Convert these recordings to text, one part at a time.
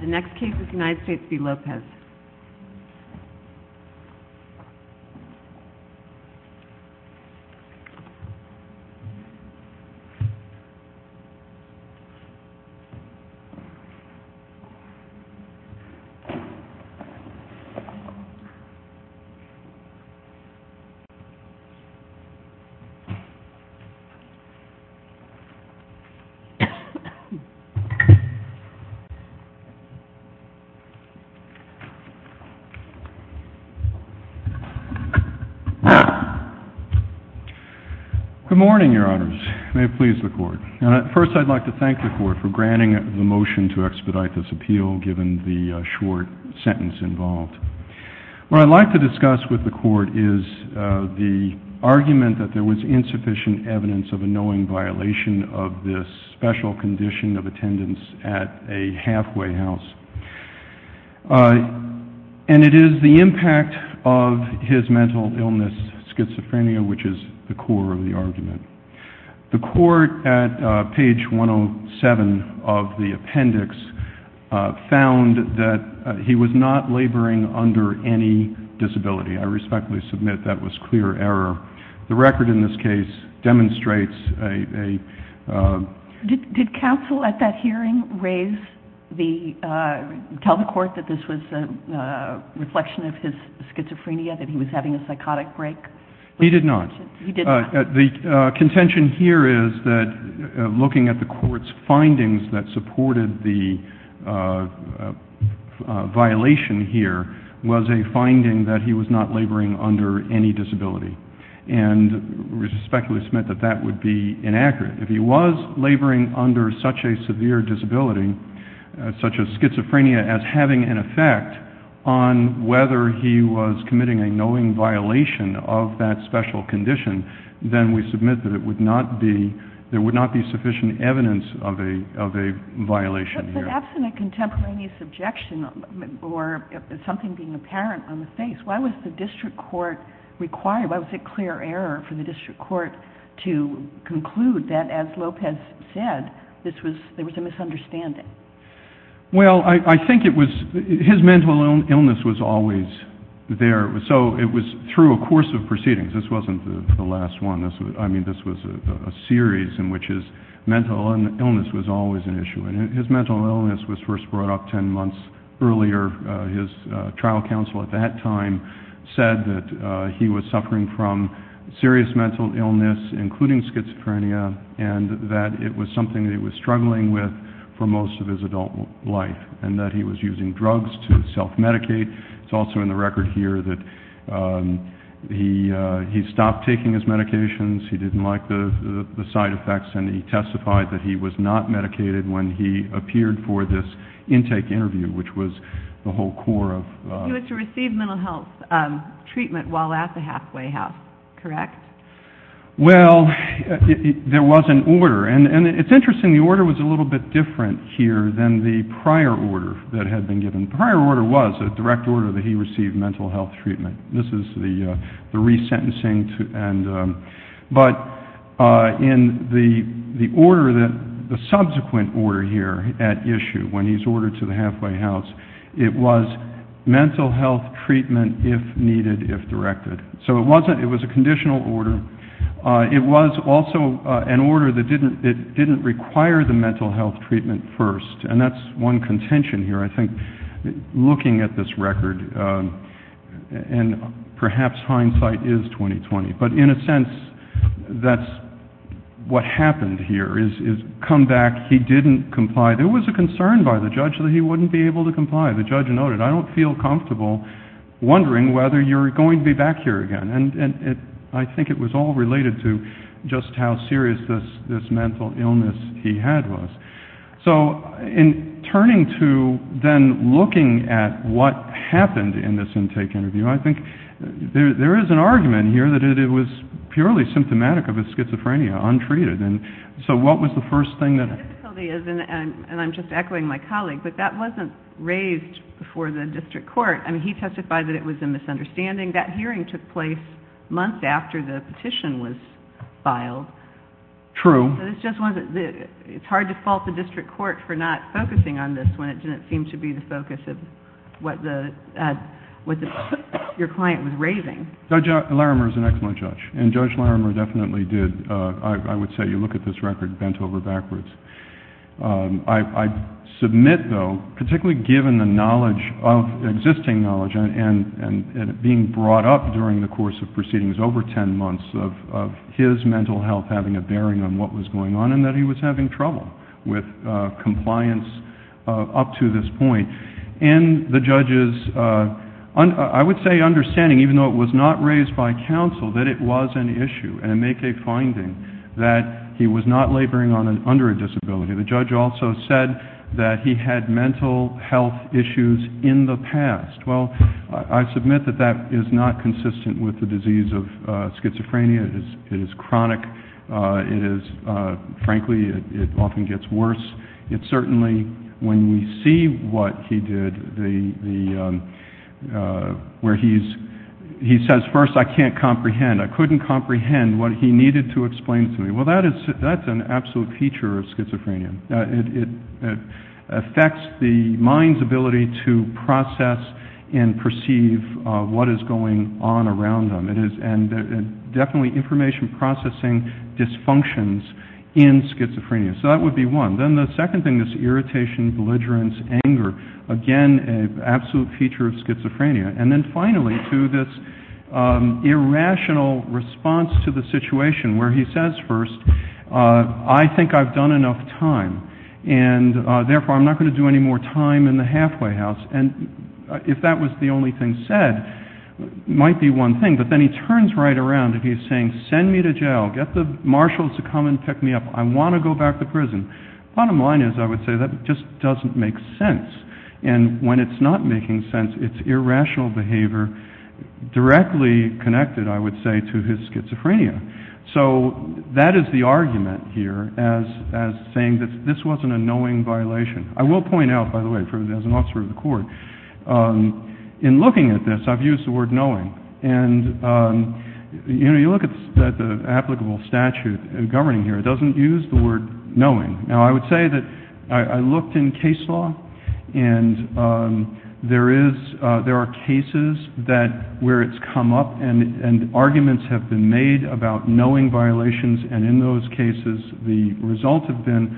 The next case is United States v. Lopez. Good morning, Your Honors. May it please the Court. First, I'd like to thank the Court for granting the motion to expedite this appeal given the short sentence involved. What I'd like to discuss with the Court is the argument that there was insufficient evidence of a And it is the impact of his mental illness, schizophrenia, which is the core of the argument. The Court at page 107 of the appendix found that he was not laboring under any disability. I respectfully submit that was clear error. The record in this case demonstrates a Did counsel at that hearing tell the Court that this was a reflection of his schizophrenia, that he was having a psychotic break? He did not. He did not. The contention here is that looking at the Court's findings that supported the violation here was a finding that he was not laboring under any disability. And I respectfully submit that that would be inaccurate. If he was laboring under such a severe disability, such as schizophrenia, as having an effect on whether he was committing a knowing violation of that special condition, then we submit that there would not be sufficient evidence of a violation here. But absent a contemporaneous objection or something being apparent on the face, why was the district court required, why was it clear error for the district court to conclude that, as Lopez said, there was a misunderstanding? Well, I think it was his mental illness was always there. So it was through a course of proceedings. This wasn't the last one. I mean, this was a series in which his mental illness was always an issue. And his mental illness was first brought up 10 months earlier. His trial counsel at that time said that he was suffering from serious mental illness, including schizophrenia, and that it was something that he was struggling with for most of his adult life and that he was using drugs to self-medicate. It's also in the record here that he stopped taking his medications. He didn't like the side effects, and he testified that he was not medicated when he appeared for this intake interview, which was the whole core of— He was to receive mental health treatment while at the halfway house, correct? Well, there was an order. And it's interesting, the order was a little bit different here than the prior order that had been given. The prior order was a direct order that he receive mental health treatment. This is the resentencing. But in the order, the subsequent order here at issue when he's ordered to the halfway house, it was mental health treatment if needed, if directed. So it was a conditional order. It was also an order that didn't require the mental health treatment first, and that's one contention here, I think, looking at this record. And perhaps hindsight is 20-20. But in a sense, that's what happened here, is come back, he didn't comply. There was a concern by the judge that he wouldn't be able to comply. The judge noted, I don't feel comfortable wondering whether you're going to be back here again. And I think it was all related to just how serious this mental illness he had was. So in turning to then looking at what happened in this intake interview, I think there is an argument here that it was purely symptomatic of his schizophrenia, untreated. And so what was the first thing that? The difficulty is, and I'm just echoing my colleague, but that wasn't raised before the district court. I mean, he testified that it was a misunderstanding. That hearing took place months after the petition was filed. True. It's hard to fault the district court for not focusing on this when it didn't seem to be the focus of what your client was raving. Judge Larimer is an excellent judge, and Judge Larimer definitely did. I would say you look at this record bent over backwards. I submit, though, particularly given the knowledge, existing knowledge, and it being brought up during the course of proceedings, over ten months of his mental health having a bearing on what was going on and that he was having trouble with compliance up to this point. And the judge's, I would say, understanding, even though it was not raised by counsel, that it was an issue and make a finding that he was not laboring under a disability. The judge also said that he had mental health issues in the past. Well, I submit that that is not consistent with the disease of schizophrenia. It is chronic. It is, frankly, it often gets worse. It certainly, when we see what he did, where he says, first, I can't comprehend. I couldn't comprehend what he needed to explain to me. Well, that's an absolute feature of schizophrenia. It affects the mind's ability to process and perceive what is going on around them. And definitely information processing dysfunctions in schizophrenia. So that would be one. Then the second thing is irritation, belligerence, anger. Again, an absolute feature of schizophrenia. And then finally to this irrational response to the situation where he says, first, I think I've done enough time, and therefore I'm not going to do any more time in the halfway house. And if that was the only thing said, it might be one thing. But then he turns right around and he's saying, send me to jail. Get the marshals to come and pick me up. I want to go back to prison. Bottom line is, I would say, that just doesn't make sense. And when it's not making sense, it's irrational behavior directly connected, I would say, to his schizophrenia. So that is the argument here as saying that this wasn't a knowing violation. I will point out, by the way, as an officer of the court, in looking at this, I've used the word knowing. And you look at the applicable statute governing here. It doesn't use the word knowing. Now, I would say that I looked in case law, and there are cases where it's come up and arguments have been made about knowing violations. And in those cases, the result has been,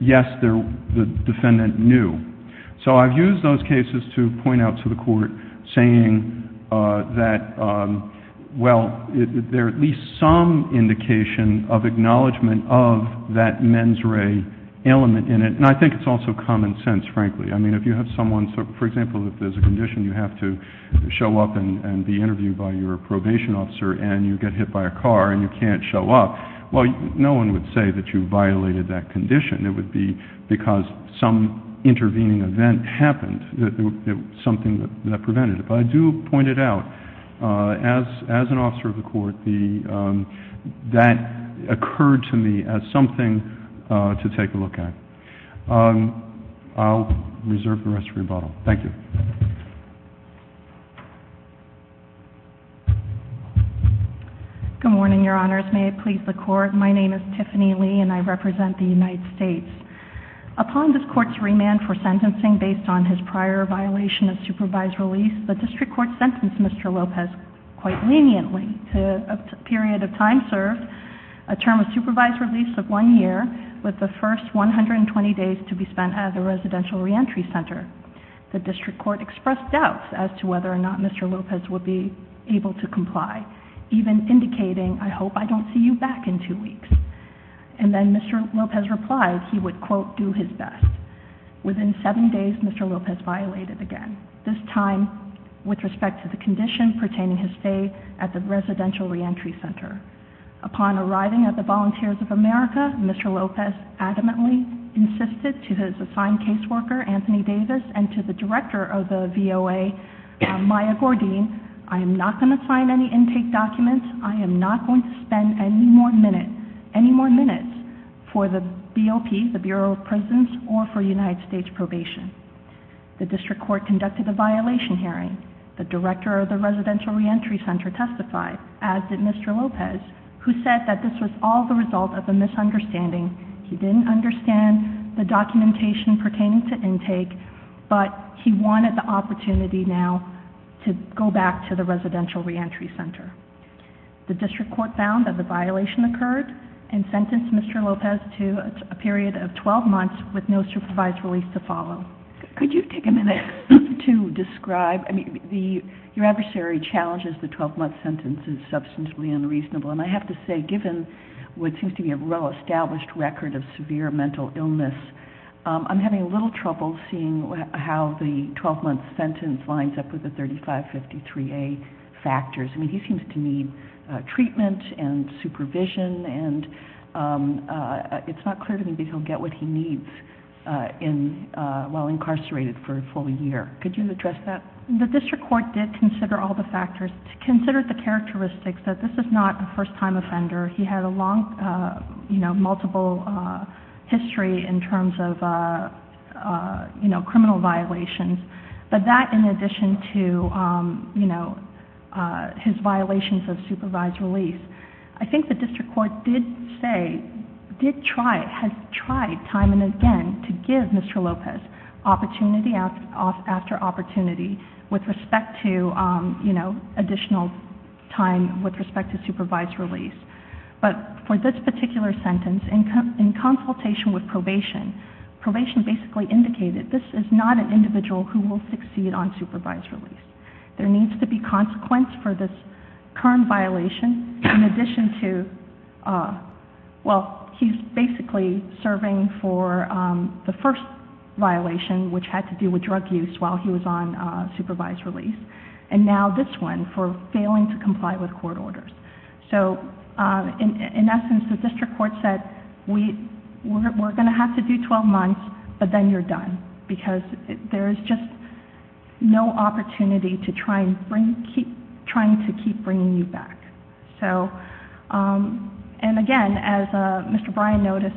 yes, the defendant knew. So I've used those cases to point out to the court saying that, well, there are at least some indication of acknowledgment of that mens rea element in it. And I think it's also common sense, frankly. I mean, if you have someone, for example, if there's a condition you have to show up and be interviewed by your probation officer and you get hit by a car and you can't show up, well, no one would say that you violated that condition. It would be because some intervening event happened, something that prevented it. But I do point it out, as an officer of the court, that occurred to me as something to take a look at. I'll reserve the rest for rebuttal. Thank you. Good morning, Your Honors. May it please the Court. My name is Tiffany Lee, and I represent the United States. Upon this Court's remand for sentencing based on his prior violation of supervised release, the district court sentenced Mr. Lopez quite leniently to a period of time served, a term of supervised release of one year, with the first 120 days to be spent at a residential reentry center. The district court expressed doubts as to whether or not Mr. Lopez would be able to comply, even indicating, I hope I don't see you back in two weeks. And then Mr. Lopez replied he would, quote, do his best. Within seven days, Mr. Lopez violated again, this time with respect to the condition pertaining his stay at the residential reentry center. Upon arriving at the Volunteers of America, Mr. Lopez adamantly insisted to his assigned caseworker, Anthony Davis, and to the director of the VOA, Maya Gordine, I am not going to sign any intake documents. I am not going to spend any more minutes for the BOP, the Bureau of Prisons, or for United States probation. The district court conducted a violation hearing. The director of the residential reentry center testified, as did Mr. Lopez, who said that this was all the result of a misunderstanding. He didn't understand the documentation pertaining to intake, but he wanted the opportunity now to go back to the residential reentry center. The district court found that the violation occurred, and sentenced Mr. Lopez to a period of 12 months with no supervised release to follow. Could you take a minute to describe? I mean, your adversary challenges the 12-month sentence as substantially unreasonable, and I have to say, given what seems to be a well-established record of severe mental illness, I'm having a little trouble seeing how the 12-month sentence lines up with the 3553A factors. I mean, he seems to need treatment and supervision, and it's not clear to me that he'll get what he needs while incarcerated for a full year. Could you address that? The district court did consider all the factors, considered the characteristics that this is not a first-time offender. He had a long, you know, multiple history in terms of, you know, criminal violations, but that in addition to, you know, his violations of supervised release. I think the district court did say, did try, has tried time and again to give Mr. Lopez opportunity after opportunity with respect to, you know, additional time with respect to supervised release. But for this particular sentence, in consultation with probation, probation basically indicated this is not an individual who will succeed on supervised release. There needs to be consequence for this current violation in addition to, well, he's basically serving for the first violation, which had to do with drug use, while he was on supervised release, and now this one for failing to comply with court orders. So, in essence, the district court said, we're going to have to do 12 months, but then you're done because there is just no opportunity to try and bring, keep, trying to keep bringing you back. So, and again, as Mr. Bryan noticed,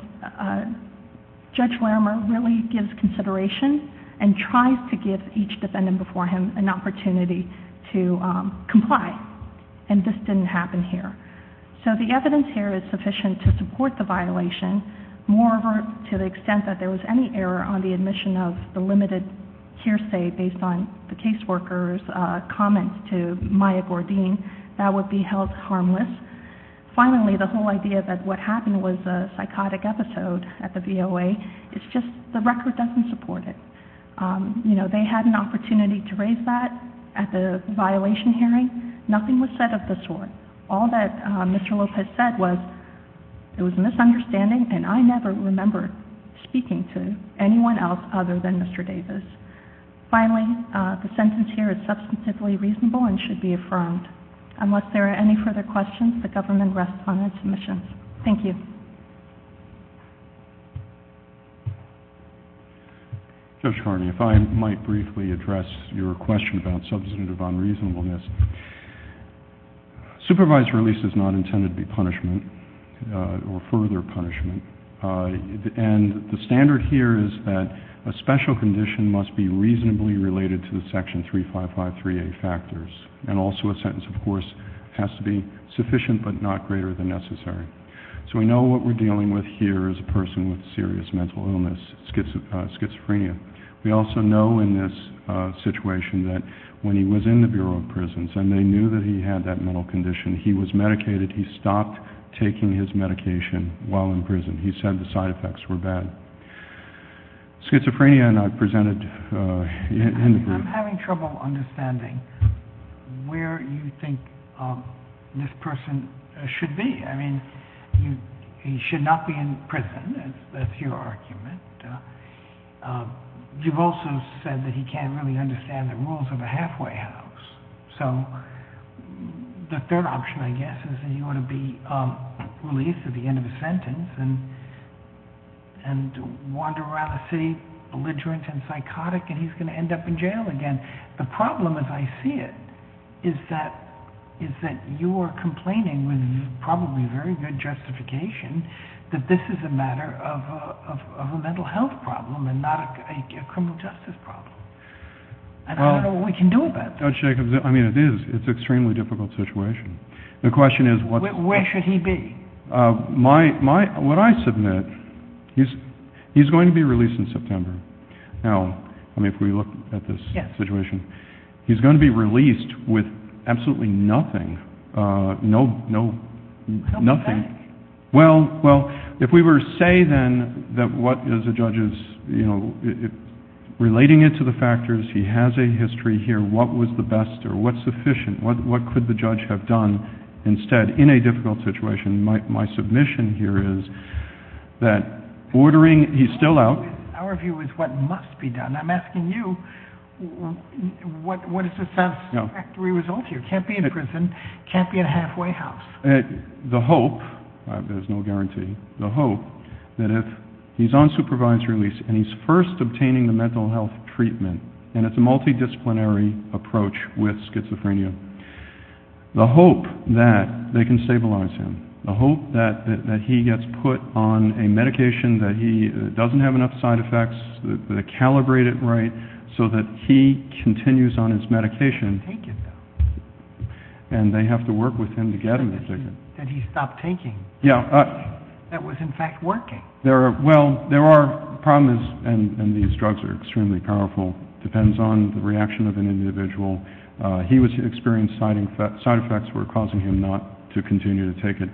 Judge Larimer really gives consideration and tries to give each defendant before him an opportunity to comply, and this didn't happen here. So the evidence here is sufficient to support the violation. Moreover, to the extent that there was any error on the admission of the limited hearsay based on the caseworker's comments to Maya Gordine, that would be held harmless. Finally, the whole idea that what happened was a psychotic episode at the VOA, it's just the record doesn't support it. You know, they had an opportunity to raise that at the violation hearing. Nothing was said of the sort. All that Mr. Lopez said was it was misunderstanding, and I never remember speaking to anyone else other than Mr. Davis. Finally, the sentence here is substantively reasonable and should be affirmed. Unless there are any further questions, the government rests on its omissions. Thank you. Judge Carney, if I might briefly address your question about substantive unreasonableness. Supervised release is not intended to be punishment or further punishment, and the standard here is that a special condition must be reasonably related to the Section 3553A factors, and also a sentence, of course, has to be sufficient but not greater than necessary. So we know what we're dealing with here is a person with serious mental illness, schizophrenia. We also know in this situation that when he was in the Bureau of Prisons and they knew that he had that mental condition, he was medicated. He stopped taking his medication while in prison. He said the side effects were bad. Schizophrenia, and I've presented in the brief. I'm having trouble understanding where you think this person should be. I mean, he should not be in prison. That's your argument. You've also said that he can't really understand the rules of a halfway house. So the third option, I guess, is that he ought to be released at the end of his sentence and wander around the city belligerent and psychotic, and he's going to end up in jail again. The problem, as I see it, is that you are complaining with probably very good justification that this is a matter of a mental health problem and not a criminal justice problem. I don't know what we can do about that. I mean, it is. It's an extremely difficult situation. Where should he be? What I submit, he's going to be released in September. Now, I mean, if we look at this situation, he's going to be released with absolutely nothing. No, no, nothing. Well, if we were to say then that what is a judge's, you know, relating it to the factors, he has a history here, what was the best or what's sufficient, what could the judge have done instead in a difficult situation, my submission here is that ordering, he's still out. Our view is what must be done. I'm asking you, what is the satisfactory result here? Can't be in prison, can't be in a halfway house. The hope, there's no guarantee, the hope that if he's on supervised release and he's first obtaining the mental health treatment, and it's a multidisciplinary approach with schizophrenia, the hope that they can stabilize him, the hope that he gets put on a medication that he doesn't have enough side effects, that they calibrate it right so that he continues on his medication. And they have to work with him to get him to take it. Did he stop taking? Yeah. That was, in fact, working. Well, there are problems, and these drugs are extremely powerful. It depends on the reaction of an individual. He was experiencing side effects that were causing him not to continue to take it.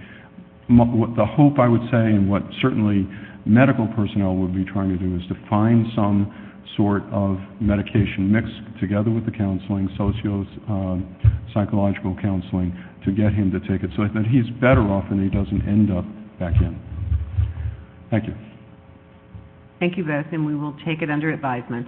The hope, I would say, and what certainly medical personnel would be trying to do, is to find some sort of medication mixed together with the counseling, sociopsychological counseling, to get him to take it so that he's better off and he doesn't end up back in. Thank you. Thank you both, and we will take it under advisement.